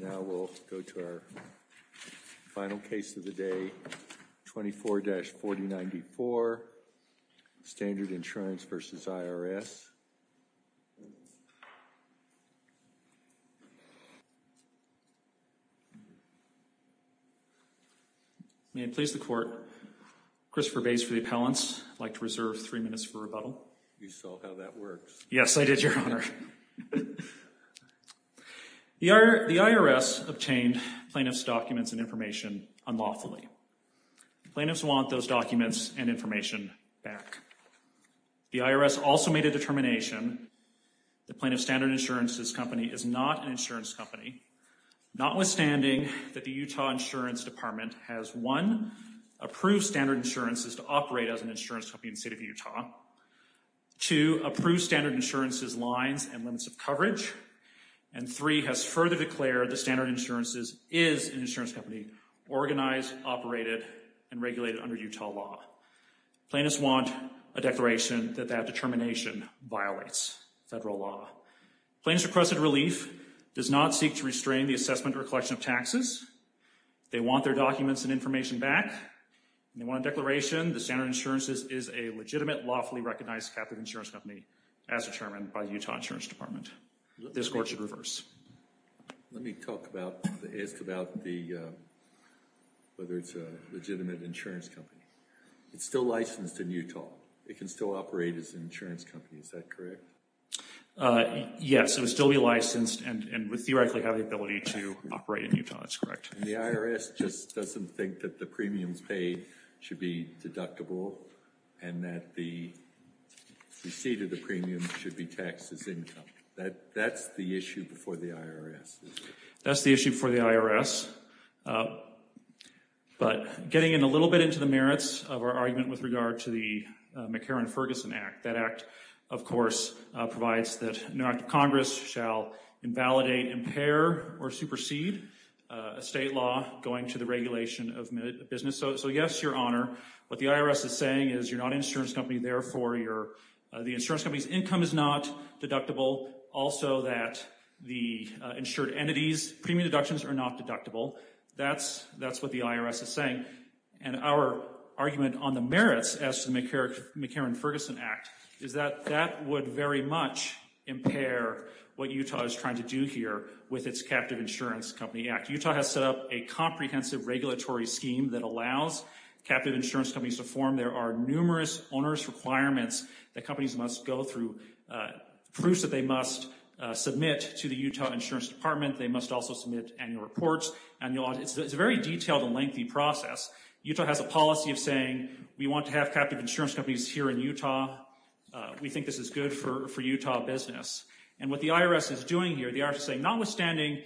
Now we'll go to our final case of the day, 24-4094, Standard Insurance v. IRS. May it please the Court, Christopher Bays for the Appellants. I'd like to reserve three minutes for rebuttal. You saw how that works. Yes, I did, Your Honor. Thank you, Your Honor. The IRS obtained plaintiff's documents and information unlawfully. The plaintiffs want those documents and information back. The IRS also made a determination that Plaintiff Standard Insurance's company is not an insurance company, notwithstanding that the Utah Insurance Department has, one, approved Standard Insurances to operate as an insurance company in the State of Utah. Two, approved Standard Insurances lines and limits of coverage. And three, has further declared that Standard Insurances is an insurance company organized, operated, and regulated under Utah law. Plaintiffs want a declaration that that determination violates federal law. Plaintiff's requested relief does not seek to restrain the assessment or collection of taxes. They want their documents and information back. And they want a declaration that Standard Insurances is a legitimate, lawfully recognized Catholic insurance company as determined by the Utah Insurance Department. This Court should reverse. Let me talk about, ask about the, whether it's a legitimate insurance company. It's still licensed in Utah. It can still operate as an insurance company, is that correct? Yes, it would still be licensed and would theoretically have the ability to operate in Utah, that's correct. The IRS just doesn't think that the premiums paid should be deductible and that the receipt of the premium should be taxed as income. That's the issue before the IRS. That's the issue before the IRS. But getting in a little bit into the merits of our argument with regard to the McCarran-Ferguson Act, that act, of course, provides that an act of Congress shall invalidate, impair, or supersede a state law going to the regulation of business. So yes, Your Honor, what the IRS is saying is you're not an insurance company, therefore the insurance company's income is not deductible. Also that the insured entities' premium deductions are not deductible. That's what the IRS is saying. And our argument on the merits as to the McCarran-Ferguson Act is that that would very much impair what Utah is trying to do here with its Captive Insurance Company Act. Utah has set up a comprehensive regulatory scheme that allows captive insurance companies to form. There are numerous onerous requirements that companies must go through, proofs that they must submit to the Utah Insurance Department. They must also submit annual reports. It's a very detailed and lengthy process. Utah has a policy of saying we want to have captive insurance companies here in Utah. We think this is good for Utah business. And what the IRS is doing here, the IRS is saying notwithstanding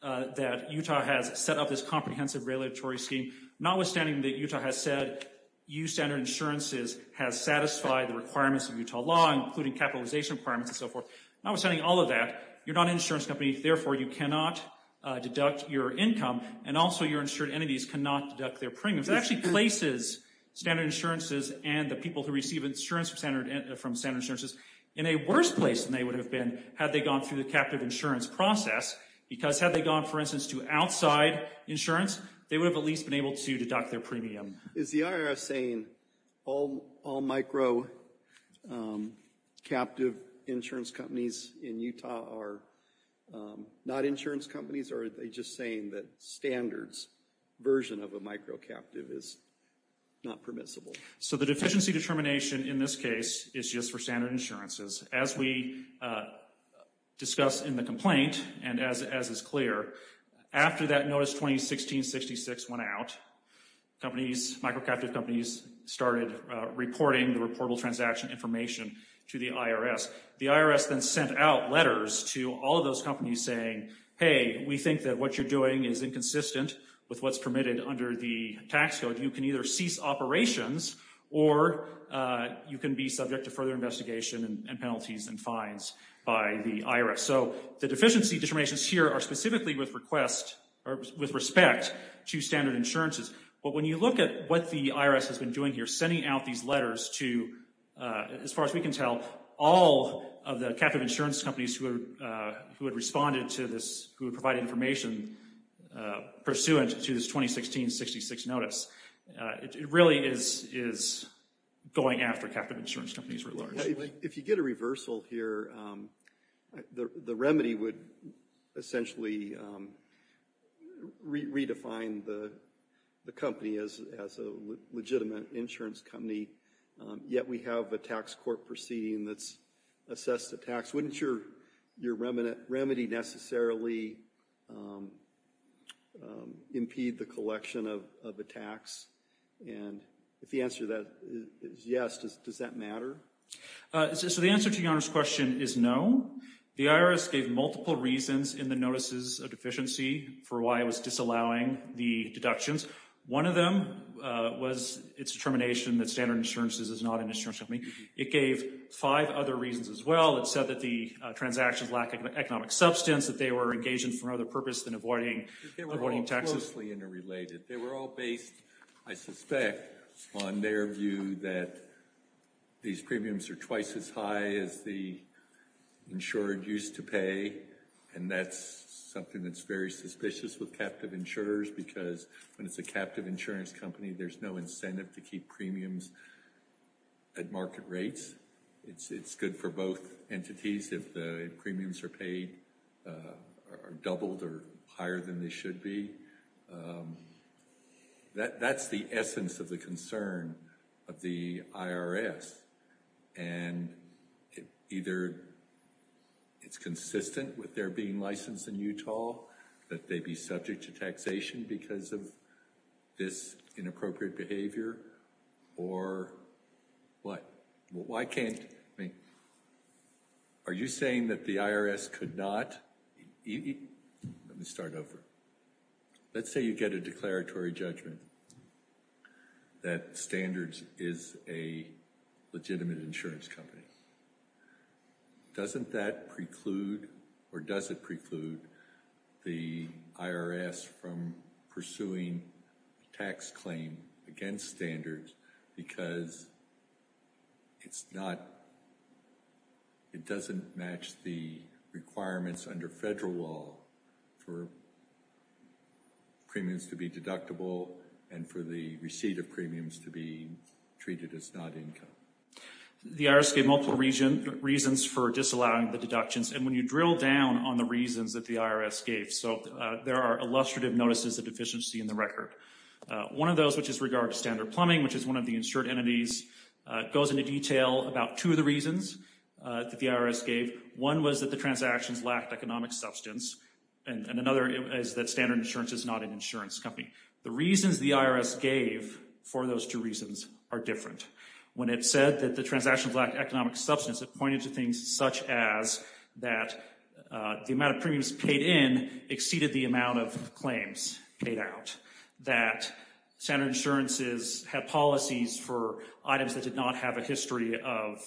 that Utah has set up this comprehensive regulatory scheme, notwithstanding that Utah has said U-Standard insurances has satisfied the requirements of Utah law, including capitalization requirements and so forth, notwithstanding all of that, you're not an insurance company, therefore you cannot deduct your income, and also your insured entities cannot deduct their premiums. It actually places standard insurances and the people who receive insurance from standard insurances in a worse place than they would have been had they gone through the captive insurance process. Because had they gone, for instance, to outside insurance, they would have at least been able to deduct their premium. Is the IRS saying all microcaptive insurance companies in Utah are not insurance companies, or are they just saying that standards version of a microcaptive is not permissible? So the deficiency determination in this case is just for standard insurances. As we discussed in the complaint, and as is clear, after that notice 2016-66 went out, companies, microcaptive companies, started reporting the reportable transaction information to the IRS. The IRS then sent out letters to all of those companies saying, hey, we think that what you're doing is inconsistent with what's permitted under the tax code. You can either cease operations or you can be subject to further investigation and penalties and fines by the IRS. So the deficiency determinations here are specifically with respect to standard insurances. But when you look at what the IRS has been doing here, sending out these letters to, as far as we can tell, all of the captive insurance companies who had responded to this, who had provided information pursuant to this 2016-66 notice, it really is going after captive insurance companies. If you get a reversal here, the remedy would essentially redefine the company as a legitimate insurance company. Yet we have a tax court proceeding that's assessed the tax. Wouldn't your remedy necessarily impede the collection of a tax? And if the answer to that is yes, does that matter? So the answer to your question is no. The IRS gave multiple reasons in the notices of deficiency for why it was disallowing the deductions. One of them was its determination that standard insurances is not an insurance company. It gave five other reasons as well. It said that the transactions lacked economic substance, that they were engaging for another purpose than avoiding taxes. They were all based, I suspect, on their view that these premiums are twice as high as the insured used to pay, and that's something that's very suspicious with captive insurers, because when it's a captive insurance company, there's no incentive to keep premiums at market rates. It's good for both entities if the premiums are doubled or higher than they should be. That's the essence of the concern of the IRS. And either it's consistent with their being licensed in Utah, that they be subject to taxation because of this inappropriate behavior, or what? Why can't—are you saying that the IRS could not—let me start over. Let's say you get a declaratory judgment that Standards is a legitimate insurance company. Doesn't that preclude, or does it preclude, the IRS from pursuing a tax claim against Standards because it's not—it doesn't match the requirements under federal law for premiums to be deductible and for the receipt of premiums to be treated as not income? The IRS gave multiple reasons for disallowing the deductions. And when you drill down on the reasons that the IRS gave, so there are illustrative notices of deficiency in the record. One of those, which is regard to Standard Plumbing, which is one of the insured entities, goes into detail about two of the reasons that the IRS gave. One was that the transactions lacked economic substance, and another is that Standard Insurance is not an insurance company. The reasons the IRS gave for those two reasons are different. When it said that the transactions lacked economic substance, it pointed to things such as that the amount of premiums paid in exceeded the amount of claims paid out, that Standard Insurance had policies for items that did not have a history of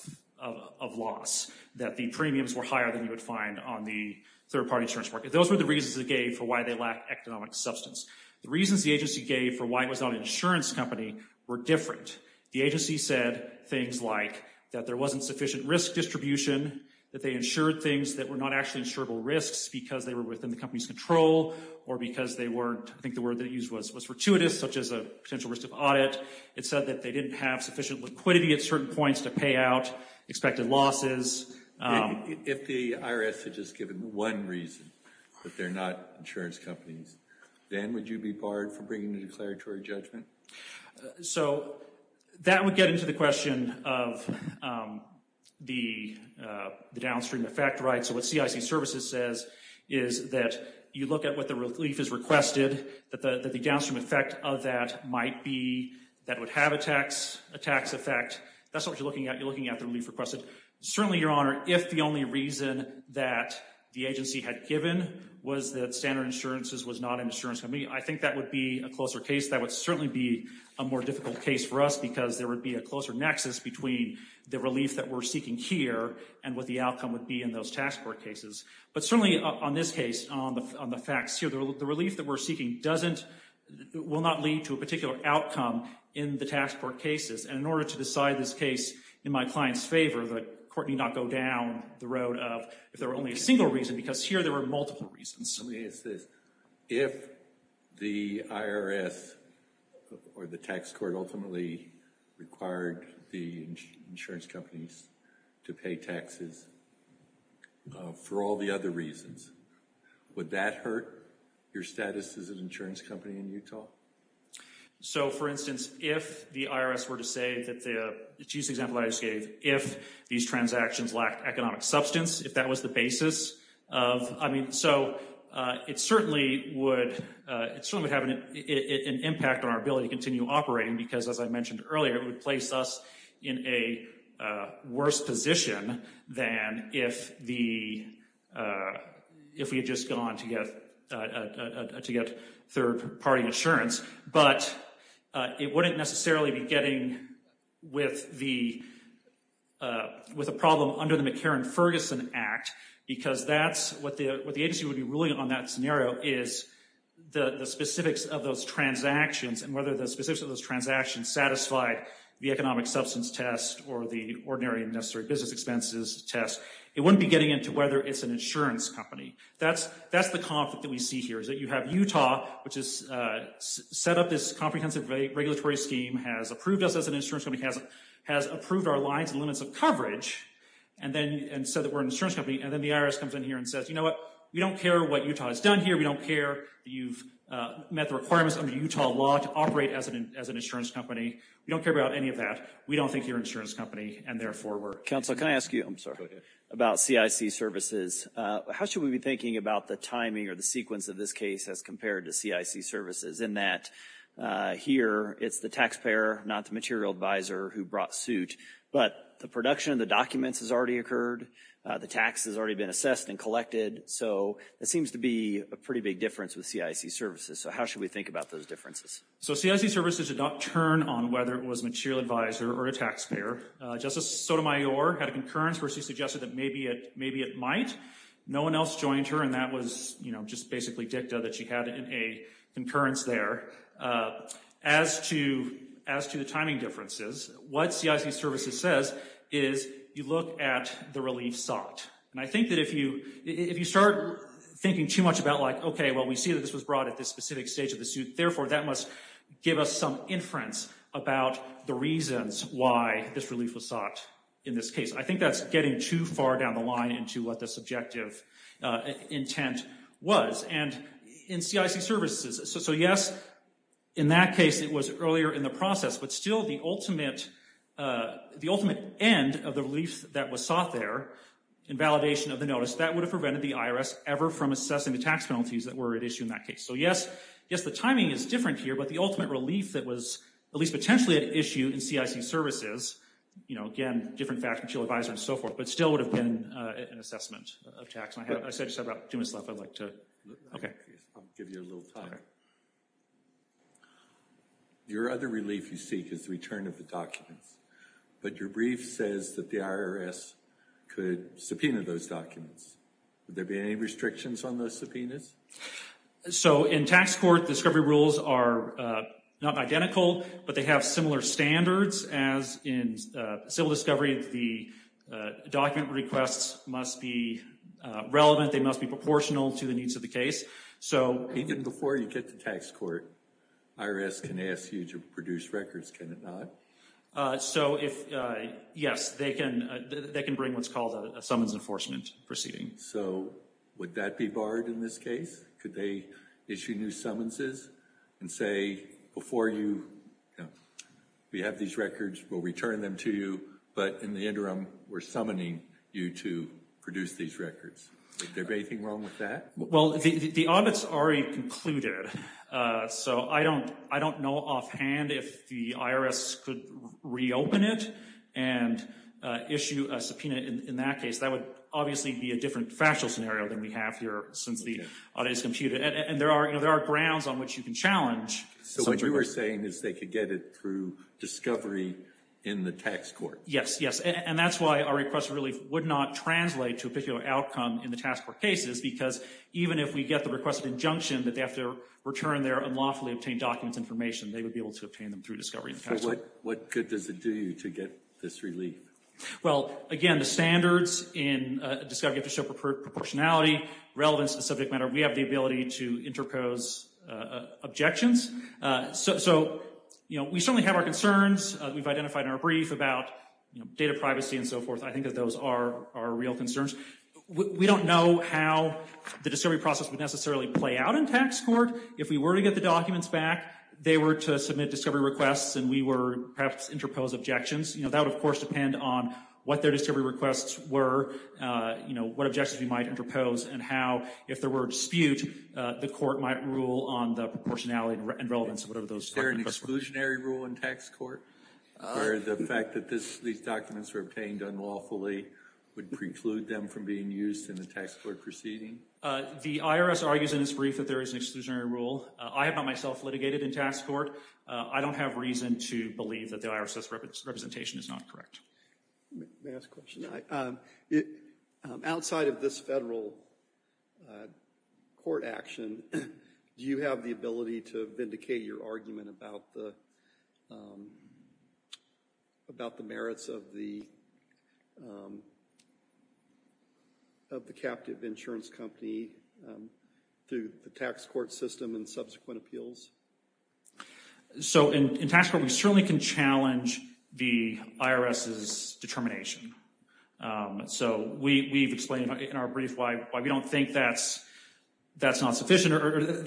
loss, that the premiums were higher than you would find on the third-party insurance market. Those were the reasons it gave for why they lacked economic substance. The reasons the agency gave for why it was not an insurance company were different. The agency said things like that there wasn't sufficient risk distribution, that they insured things that were not actually insurable risks because they were within the company's control, or because they weren't, I think the word they used was fortuitous, such as a potential risk of audit. It said that they didn't have sufficient liquidity at certain points to pay out expected losses. If the IRS had just given one reason that they're not insurance companies, then would you be barred from bringing a declaratory judgment? So that would get into the question of the downstream effect, right? So what CIC Services says is that you look at what the relief is requested, that the downstream effect of that might be that would have a tax effect. That's what you're looking at. You're looking at the relief requested. Certainly, Your Honor, if the only reason that the agency had given was that Standard Insurance was not an insurance company, I think that would be a closer case. That would certainly be a more difficult case for us because there would be a closer nexus between the relief that we're seeking here and what the outcome would be in those tax court cases. But certainly on this case, on the facts here, the relief that we're seeking doesn't, will not lead to a particular outcome in the tax court cases. And in order to decide this case in my client's favor, the court need not go down the road of if there were only a single reason because here there were multiple reasons. Let me ask this. If the IRS or the tax court ultimately required the insurance companies to pay taxes for all the other reasons, would that hurt your status as an insurance company in Utah? So, for instance, if the IRS were to say that the, just an example I just gave, if these transactions lacked economic substance, if that was the basis of, I mean, so it certainly would, it certainly would have an impact on our ability to continue operating because as I mentioned earlier, it would place us in a worse position than if the, if we had just gone to get third-party insurance. But it wouldn't necessarily be getting with the, with a problem under the McCarran-Ferguson Act because that's what the agency would be ruling on that scenario is the specifics of those transactions and whether the specifics of those transactions satisfied the economic substance test or the ordinary and necessary business expenses test. It wouldn't be getting into whether it's an insurance company. That's the conflict that we see here is that you have Utah, which has set up this comprehensive regulatory scheme, has approved us as an insurance company, has approved our lines and limits of coverage and then said that we're an insurance company. And then the IRS comes in here and says, you know what? We don't care what Utah has done here. We don't care that you've met the requirements under Utah law to operate as an insurance company. We don't care about any of that. We don't think you're an insurance company, and therefore we're. Counsel, can I ask you, I'm sorry, about CIC services? How should we be thinking about the timing or the sequence of this case as compared to CIC services in that here it's the taxpayer, not the material advisor who brought suit, but the production of the documents has already occurred. The tax has already been assessed and collected. So it seems to be a pretty big difference with CIC services. So how should we think about those differences? So CIC services did not turn on whether it was a material advisor or a taxpayer. Justice Sotomayor had a concurrence where she suggested that maybe it might. No one else joined her, and that was just basically dicta that she had in a concurrence there. As to the timing differences, what CIC services says is you look at the relief sought. And I think that if you start thinking too much about like, okay, well, we see that this was brought at this specific stage of the suit, therefore that must give us some inference about the reasons why this relief was sought in this case. I think that's getting too far down the line into what the subjective intent was. And in CIC services, so, yes, in that case it was earlier in the process, but still the ultimate end of the relief that was sought there in validation of the notice, that would have prevented the IRS ever from assessing the tax penalties that were at issue in that case. So, yes, the timing is different here, but the ultimate relief that was at least potentially at issue in CIC services, you know, again, different facts, material advisor and so forth, but still would have been an assessment of tax. I just have about two minutes left I'd like to, okay. I'll give you a little time. Your other relief you seek is the return of the documents, but your brief says that the IRS could subpoena those documents. Would there be any restrictions on those subpoenas? So, in tax court, the discovery rules are not identical, but they have similar standards as in civil discovery. The document requests must be relevant. They must be proportional to the needs of the case. Even before you get to tax court, IRS can ask you to produce records, can it not? So, yes, they can bring what's called a summons enforcement proceeding. So, would that be barred in this case? Could they issue new summonses and say, before you, you know, we have these records, we'll return them to you, but in the interim, we're summoning you to produce these records. Would there be anything wrong with that? Well, the audit's already concluded. So, I don't know offhand if the IRS could reopen it and issue a subpoena in that case. That would obviously be a different factual scenario than we have here since the audit is computed. And there are grounds on which you can challenge. So, what you were saying is they could get it through discovery in the tax court? Yes, yes. And that's why our request of relief would not translate to a particular outcome in the tax court cases, because even if we get the request of injunction that they have to return their unlawfully obtained documents, information, they would be able to obtain them through discovery in tax court. So, what good does it do you to get this relief? Well, again, the standards in discovery have to show proportionality, relevance to the subject matter. We have the ability to interpose objections. So, we certainly have our concerns. We've identified in our brief about data privacy and so forth. I think that those are our real concerns. We don't know how the discovery process would necessarily play out in tax court. If we were to get the documents back, they were to submit discovery requests, and we would perhaps interpose objections. That would, of course, depend on what their discovery requests were, what objections we might interpose, and how, if there were a dispute, the court might rule on the proportionality and relevance of whatever those questions were. Is there an exclusionary rule in tax court where the fact that these documents were obtained unlawfully would preclude them from being used in the tax court proceeding? The IRS argues in its brief that there is an exclusionary rule. I have not myself litigated in tax court. I don't have reason to believe that the IRS says representation is not correct. May I ask a question? Outside of this federal court action, do you have the ability to vindicate your argument about the merits of the captive insurance company through the tax court system and subsequent appeals? So, in tax court, we certainly can challenge the IRS's determination. So, we've explained in our brief why we don't think that's not sufficient, or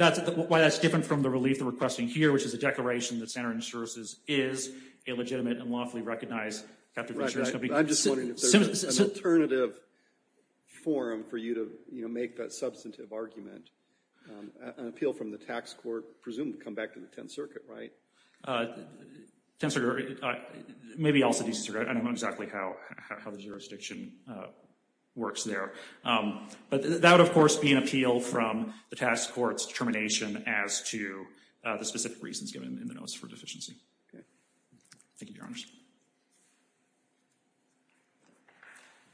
why that's different from the relief they're requesting here, which is a declaration that Santorini Services is a legitimate and lawfully recognized captive insurance company. I'm just wondering if there's an alternative forum for you to make that substantive argument, an appeal from the tax court presumed to come back to the Tenth Circuit, right? Tenth Circuit, maybe also DC Circuit. I don't know exactly how the jurisdiction works there. But that would, of course, be an appeal from the tax court's determination as to the specific reasons given in the notice for deficiency. Okay. Thank you, Your Honors.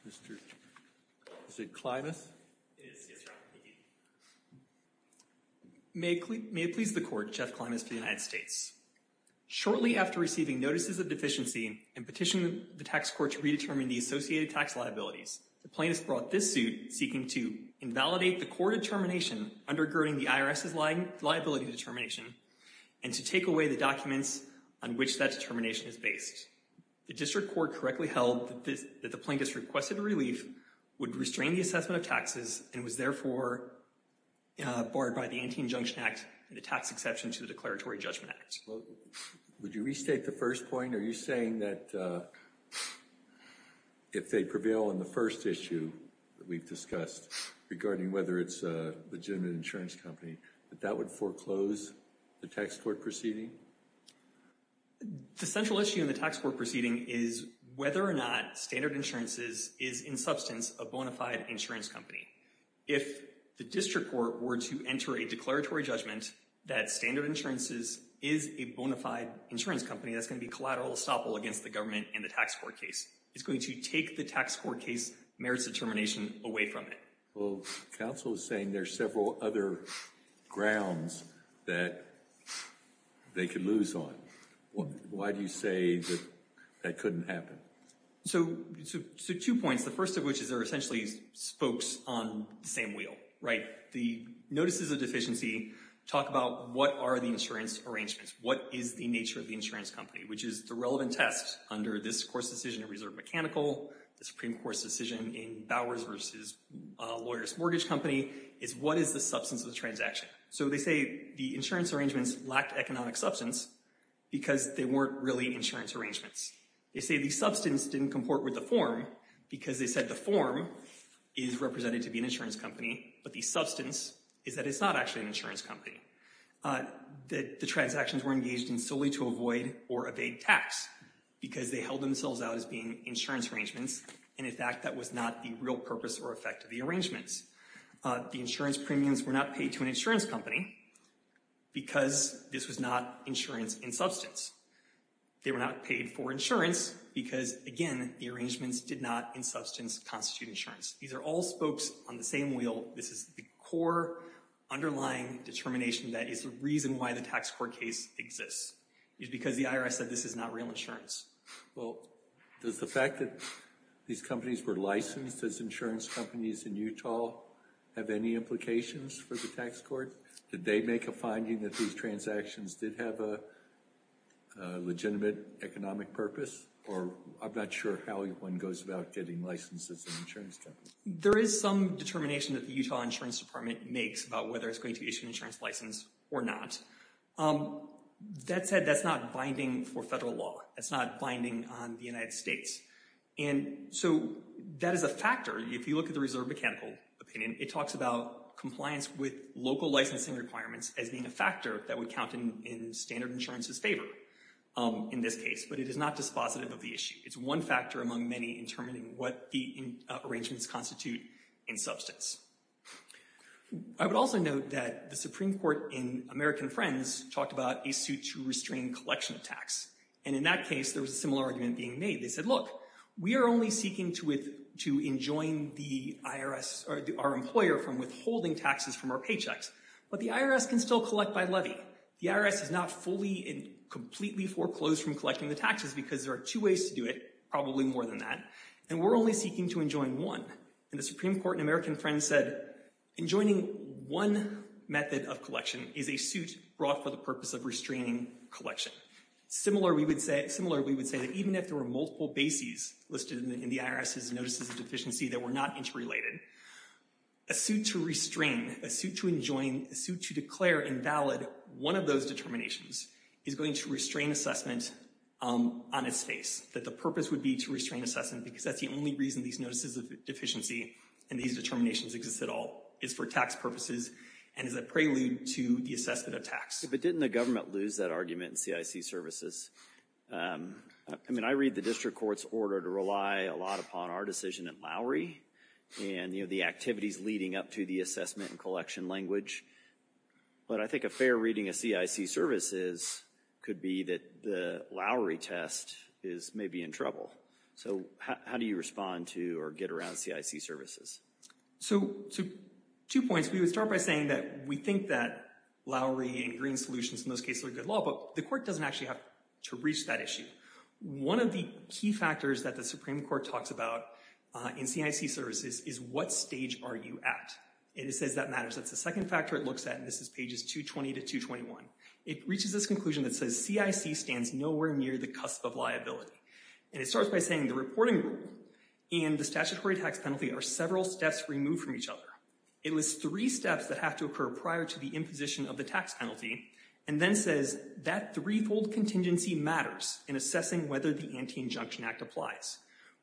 Is it Klymus? It is. Yes, Your Honor. Thank you. May it please the Court, Jeff Klymus for the United States. Shortly after receiving notices of deficiency and petitioning the tax court to redetermine the associated tax liabilities, the plaintiffs brought this suit seeking to invalidate the court determination undergirding the IRS's liability determination and to take away the documents on which that determination is based. The district court correctly held that the plaintiffs requested relief, would restrain the assessment of taxes, and was therefore barred by the Ante and Injunction Act and the tax exception to the Declaratory Judgment Act. Would you restate the first point? Are you saying that if they prevail on the first issue that we've discussed regarding whether it's a legitimate insurance company, that that would foreclose the tax court proceeding? The central issue in the tax court proceeding is whether or not Standard Insurances is in substance a bona fide insurance company. If the district court were to enter a declaratory judgment that Standard Insurances is a bona fide insurance company, that's going to be collateral estoppel against the government and the tax court case. It's going to take the tax court case merits determination away from it. Well, counsel is saying there's several other grounds that they could lose on. Why do you say that that couldn't happen? So two points. The first of which is there are essentially spokes on the same wheel, right? The notices of deficiency talk about what are the insurance arrangements, what is the nature of the insurance company, which is the relevant test under this court's decision in Reserve Mechanical, the Supreme Court's decision in Bowers v. Lawyer's Mortgage Company, is what is the substance of the transaction? So they say the insurance arrangements lacked economic substance because they weren't really insurance arrangements. They say the substance didn't comport with the form because they said the form is represented to be an insurance company, but the substance is that it's not actually an insurance company. The transactions were engaged in solely to avoid or evade tax because they held themselves out as being insurance arrangements, and in fact that was not the real purpose or effect of the arrangements. The insurance premiums were not paid to an insurance company because this was not insurance in substance. They were not paid for insurance because, again, the arrangements did not in substance constitute insurance. These are all spokes on the same wheel. This is the core underlying determination that is the reason why the tax court case exists. It's because the IRS said this is not real insurance. Well, does the fact that these companies were licensed as insurance companies in Utah have any implications for the tax court? Did they make a finding that these transactions did have a legitimate economic purpose? Or I'm not sure how one goes about getting licensed as an insurance company. There is some determination that the Utah Insurance Department makes about whether it's going to issue an insurance license or not. That said, that's not binding for federal law. That's not binding on the United States. And so that is a factor. If you look at the Reserve Mechanical Opinion, it talks about compliance with local licensing requirements as being a factor that would count in standard insurance's favor in this case, but it is not dispositive of the issue. It's one factor among many in determining what the arrangements constitute in substance. I would also note that the Supreme Court in American Friends talked about a suit to restrain collection of tax. And in that case, there was a similar argument being made. They said, look, we are only seeking to enjoin the IRS or our employer from withholding taxes from our paychecks, but the IRS can still collect by levy. The IRS is not fully and completely foreclosed from collecting the taxes because there are two ways to do it, probably more than that, and we're only seeking to enjoin one. And the Supreme Court in American Friends said enjoining one method of collection is a suit brought for the purpose of restraining collection. Similar, we would say that even if there were multiple bases listed in the IRS's notices of deficiency that were not interrelated, a suit to restrain, a suit to enjoin, a suit to declare invalid one of those determinations is going to restrain assessment on its face, that the purpose would be to restrain assessment because that's the only reason these notices of deficiency and these determinations exist at all is for tax purposes and is a prelude to the assessment of tax. But didn't the government lose that argument in CIC services? I mean, I read the district court's order to rely a lot upon our decision at Lowry and the activities leading up to the assessment and collection language. But I think a fair reading of CIC services could be that the Lowry test is maybe in trouble. So how do you respond to or get around CIC services? So, two points. We would start by saying that we think that Lowry and green solutions in those cases are good law, but the court doesn't actually have to reach that issue. One of the key factors that the Supreme Court talks about in CIC services is what stage are you at? And it says that matters. That's the second factor it looks at, and this is pages 220 to 221. It reaches this conclusion that says CIC stands nowhere near the cusp of liability. And it starts by saying the reporting rule and the statutory tax penalty are several steps removed from each other. It lists three steps that have to occur prior to the imposition of the tax penalty and then says that threefold contingency matters in assessing whether the Anti-Injunction Act applies.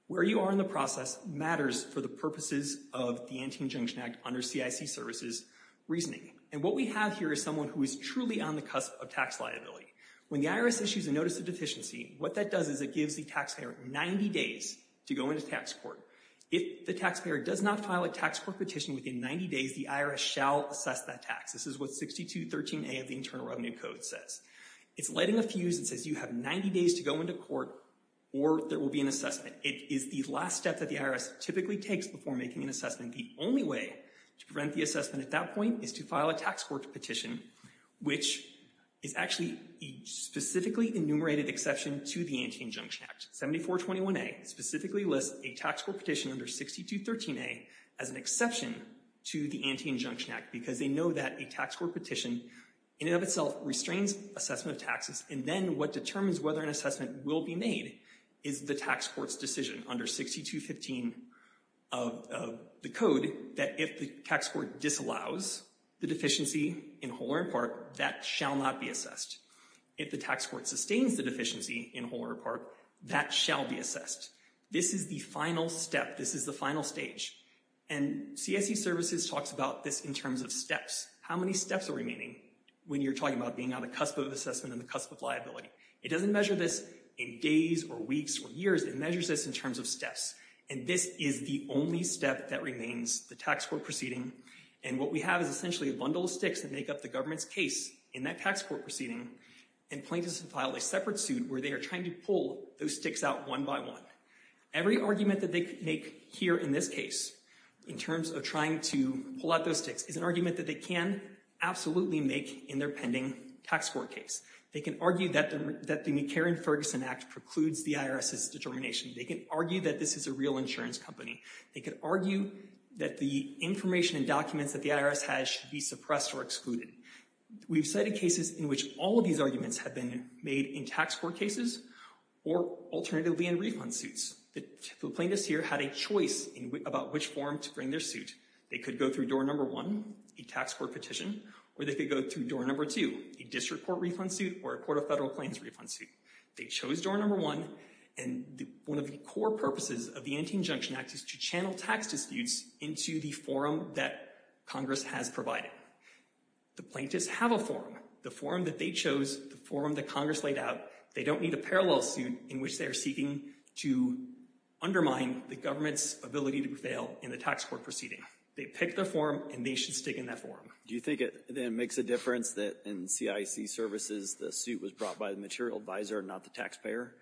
Where you are in the process matters for the purposes of the Anti-Injunction Act under CIC services reasoning. And what we have here is someone who is truly on the cusp of tax liability. When the IRS issues a notice of deficiency, what that does is it gives the taxpayer 90 days to go into tax court. If the taxpayer does not file a tax court petition within 90 days, the IRS shall assess that tax. This is what 6213A of the Internal Revenue Code says. It's lighting a fuse and says you have 90 days to go into court or there will be an assessment. It is the last step that the IRS typically takes before making an assessment. The only way to prevent the assessment at that point is to file a tax court petition, which is actually a specifically enumerated exception to the Anti-Injunction Act. 7421A specifically lists a tax court petition under 6213A as an exception to the Anti-Injunction Act because they know that a tax court petition in and of itself restrains assessment of taxes and then what determines whether an assessment will be made is the tax court's decision under 6215 of the code that if the tax court disallows the deficiency in whole or in part, that shall not be assessed. If the tax court sustains the deficiency in whole or in part, that shall be assessed. This is the final step. This is the final stage. And CSE Services talks about this in terms of steps. How many steps are remaining when you're talking about being on the cusp of assessment and the cusp of liability? It doesn't measure this in days or weeks or years. It measures this in terms of steps. And this is the only step that remains, the tax court proceeding. And what we have is essentially a bundle of sticks that make up the government's case in that tax court proceeding and plaintiffs file a separate suit where they are trying to pull those sticks out one by one. Every argument that they make here in this case in terms of trying to pull out those sticks is an argument that they can absolutely make in their pending tax court case. They can argue that the McCarran-Ferguson Act precludes the IRS's determination. They can argue that this is a real insurance company. They can argue that the information and documents that the IRS has should be suppressed or excluded. We've cited cases in which all of these arguments have been made in tax court cases or alternatively in refund suits. The plaintiffs here had a choice about which form to bring their suit. They could go through door number one, a tax court petition, or they could go through door number two, a district court refund suit or a court of federal claims refund suit. They chose door number one and one of the core purposes of the Antean Junction Act is to channel tax disputes into the forum that Congress has provided. The plaintiffs have a forum, the forum that they chose, the forum that Congress laid out. They don't need a parallel suit in which they are seeking to undermine the government's ability to prevail in the tax court proceeding. They pick their forum and they should stick in that forum. Do you think it makes a difference that in CIC services the suit was brought by the material advisor and not the taxpayer?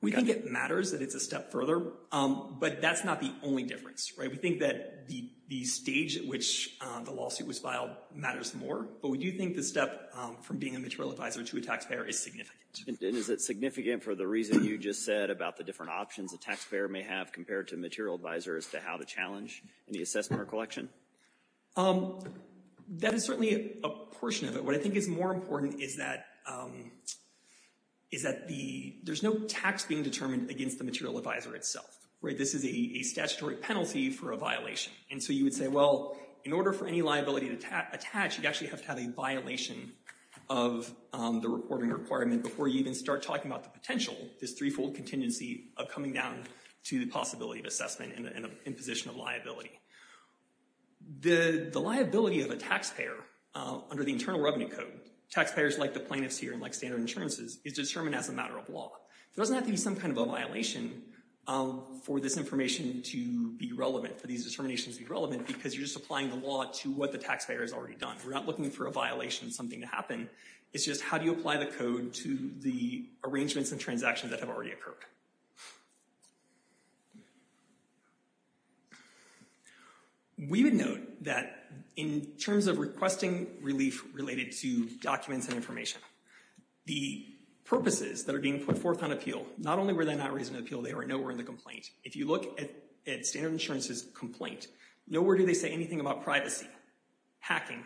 We think it matters that it's a step further, but that's not the only difference. We think that the stage at which the lawsuit was filed matters more, but we do think the step from being a material advisor to a taxpayer is significant. And is it significant for the reason you just said about the different options a taxpayer may have compared to a material advisor as to how to challenge any assessment or collection? That is certainly a portion of it. What I think is more important is that there's no tax being determined against the material advisor itself. This is a statutory penalty for a violation. And so you would say, well, in order for any liability to attach, you actually have to have a violation of the reporting requirement before you even start talking about the potential, this threefold contingency, of coming down to the possibility of assessment and imposition of liability. The liability of a taxpayer under the Internal Revenue Code, taxpayers like the plaintiffs here and like standard insurances, is determined as a matter of law. There doesn't have to be some kind of a violation for this information to be relevant, for these determinations to be relevant, because you're just applying the law to what the taxpayer has already done. We're not looking for a violation, something to happen. It's just how do you apply the code to the arrangements and transactions that have already occurred? We would note that in terms of requesting relief related to documents and information, the purposes that are being put forth on appeal, not only were they not raising an appeal, they were nowhere in the complaint. If you look at standard insurance's complaint, nowhere do they say anything about privacy, hacking,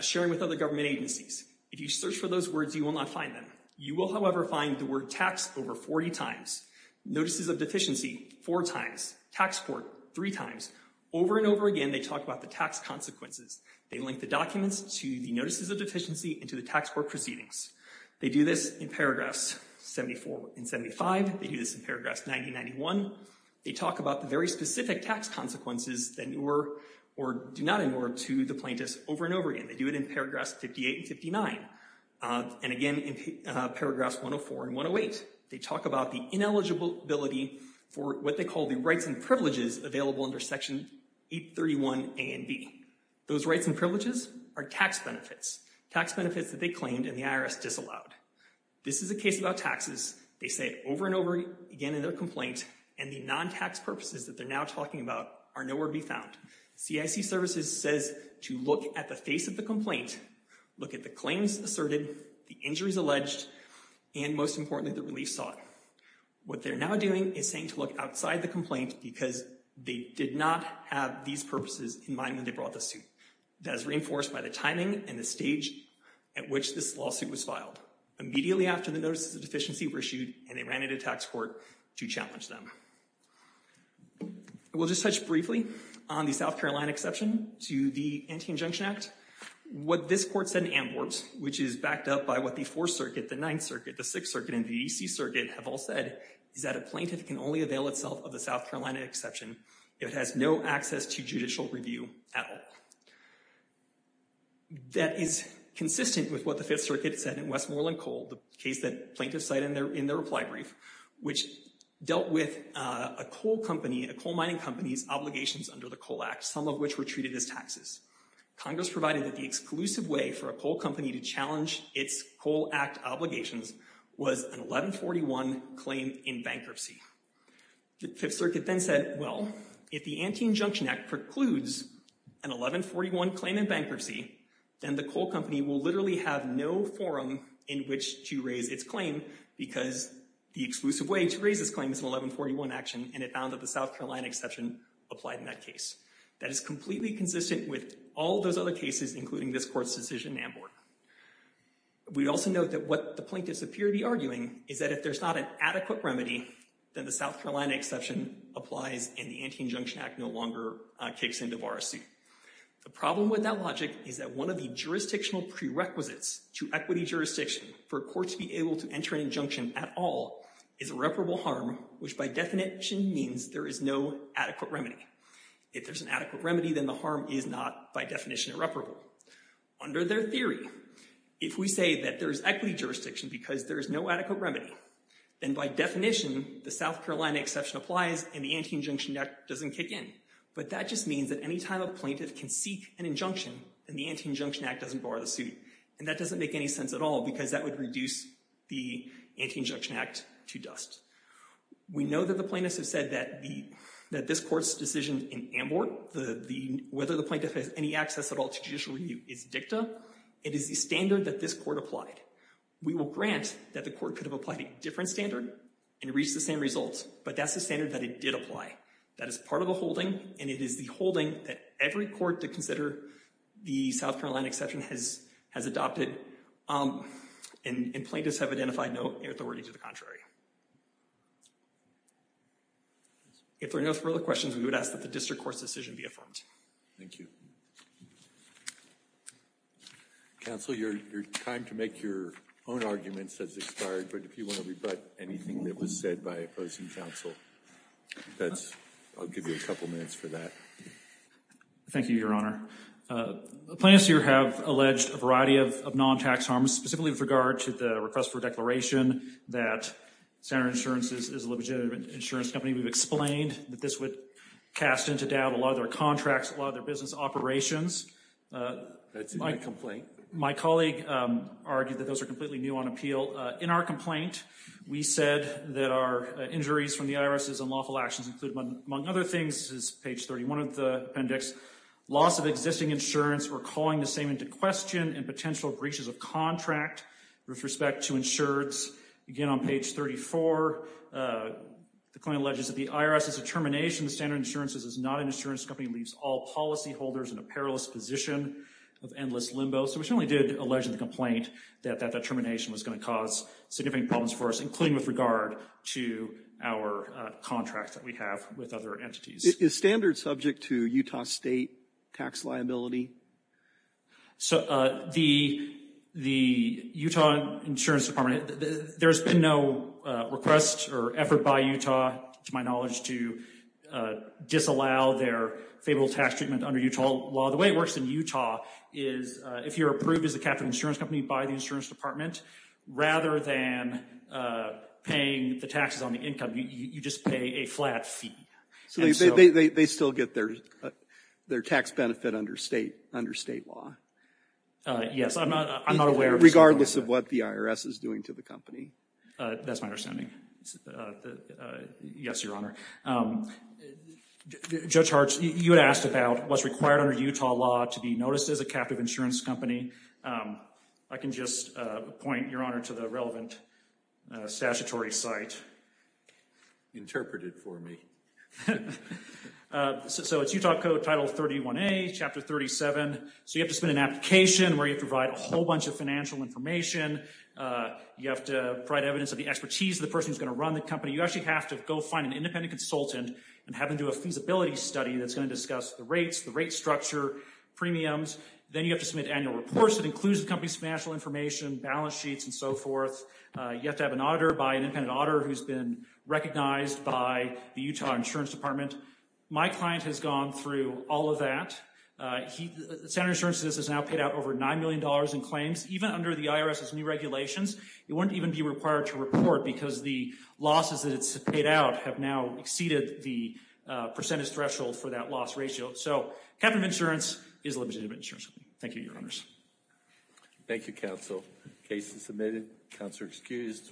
sharing with other government agencies. If you search for those words, you will not find them. You will, however, find the word tax over 40 times, notices of deficiency four times, tax court three times. Over and over again, they talk about the tax consequences. They link the documents to the notices of deficiency and to the tax court proceedings. They do this in paragraphs 74 and 75. They do this in paragraphs 90 and 91. They talk about the very specific tax consequences that do not ignore to the plaintiffs over and over again. They do it in paragraphs 58 and 59. And again, in paragraphs 104 and 108, they talk about the ineligibility for what they call the rights and privileges available under Section 831 A and B. Those rights and privileges are tax benefits, tax benefits that they claimed and the IRS disallowed. This is a case about taxes. They say it over and over again in their complaint, and the non-tax purposes that they're now talking about are nowhere to be found. CIC Services says to look at the face of the complaint, look at the claims asserted, the injuries alleged, and most importantly, the relief sought. What they're now doing is saying to look outside the complaint because they did not have these purposes in mind when they brought the suit. That is reinforced by the timing and the stage at which this lawsuit was filed, immediately after the notices of deficiency were issued and they ran into tax court to challenge them. We'll just touch briefly on the South Carolina exception to the Anti-Injunction Act. What this court said in Amborbs, which is backed up by what the Fourth Circuit, the Ninth Circuit, the Sixth Circuit, and the E.C. Circuit have all said, is that a plaintiff can only avail itself of the South Carolina exception if it has no access to judicial review at all. That is consistent with what the Fifth Circuit said in Westmoreland Coal, the case that plaintiffs cite in their reply brief, which dealt with a coal mining company's obligations under the Coal Act, some of which were treated as taxes. Congress provided that the exclusive way for a coal company to challenge its Coal Act obligations was an 1141 claim in bankruptcy. The Fifth Circuit then said, well, if the Anti-Injunction Act precludes an 1141 claim in bankruptcy, then the coal company will literally have no forum in which to raise its claim because the exclusive way to raise this claim is an 1141 action, and it found that the South Carolina exception applied in that case. That is completely consistent with all those other cases, including this court's decision in Amborbs. We also note that what the plaintiffs appear to be arguing is that if there's not an adequate remedy, then the South Carolina exception applies and the Anti-Injunction Act no longer kicks into voracy. The problem with that logic is that one of the jurisdictional prerequisites to equity jurisdiction for a court to be able to enter an injunction at all is irreparable harm, which by definition means there is no adequate remedy. If there's an adequate remedy, then the harm is not, by definition, irreparable. Under their theory, if we say that there's equity jurisdiction because there is no adequate remedy, then by definition the South Carolina exception applies and the Anti-Injunction Act doesn't kick in. But that just means that any time a plaintiff can seek an injunction, then the Anti-Injunction Act doesn't bar the suit. And that doesn't make any sense at all because that would reduce the Anti-Injunction Act to dust. We know that the plaintiffs have said that this court's decision in Amborbs, whether the plaintiff has any access at all to judicial review, is dicta. It is the standard that this court applied. We will grant that the court could have applied a different standard and reached the same results, but that's the standard that it did apply. That is part of the holding, and it is the holding that every court to consider the South Carolina exception has adopted. And plaintiffs have identified no authority to the contrary. If there are no further questions, we would ask that the district court's decision be affirmed. Thank you. Counsel, your time to make your own arguments has expired, but if you want to rebut anything that was said by opposing counsel, I'll give you a couple minutes for that. Thank you, Your Honor. Plaintiffs here have alleged a variety of non-tax harms, specifically with regard to the request for a declaration that Standard Insurance is a legitimate insurance company. We've explained that this would cast into doubt a lot of their contracts, a lot of their business operations. That's in the complaint. My colleague argued that those are completely new on appeal. In our complaint, we said that our injuries from the IRS's unlawful actions include, among other things, this is page 31 of the appendix, loss of existing insurance or calling the same into question and potential breaches of contract with respect to insurance. Again, on page 34, the claim alleges that the IRS's determination that Standard Insurance is not an insurance company leaves all policyholders in a perilous position of endless limbo. So we certainly did allege in the complaint that that determination was going to cause significant problems for us, including with regard to our contracts that we have with other entities. Is Standard subject to Utah State tax liability? The Utah Insurance Department, there's been no request or effort by Utah, to my knowledge, to disallow their favorable tax treatment under Utah law. The way it works in Utah is if you're approved as a capital insurance company by the insurance department, rather than paying the taxes on the income, you just pay a flat fee. So they still get their tax benefit under State law? Yes. I'm not aware of that. Regardless of what the IRS is doing to the company? That's my understanding. Yes, Your Honor. Judge Hartz, you had asked about what's required under Utah law to be noticed as a capital insurance company. I can just point, Your Honor, to the relevant statutory site. Interpret it for me. So it's Utah Code, Title 31A, Chapter 37. So you have to submit an application where you provide a whole bunch of financial information. You have to provide evidence of the expertise of the person who's going to run the company. You actually have to go find an independent consultant and have them do a feasibility study that's going to discuss the rates, the rate structure, premiums. Then you have to submit annual reports that includes the company's financial information, balance sheets, and so forth. You have to have an auditor by an independent auditor who's been recognized by the Utah Insurance Department. My client has gone through all of that. Senator's insurance has now paid out over $9 million in claims. Even under the IRS's new regulations, it wouldn't even be required to report because the losses that it's paid out have now exceeded the percentage threshold for that loss ratio. So capital insurance is limited to insurance. Thank you, Your Honors. Thank you, counsel. Case is submitted. Counselor excused.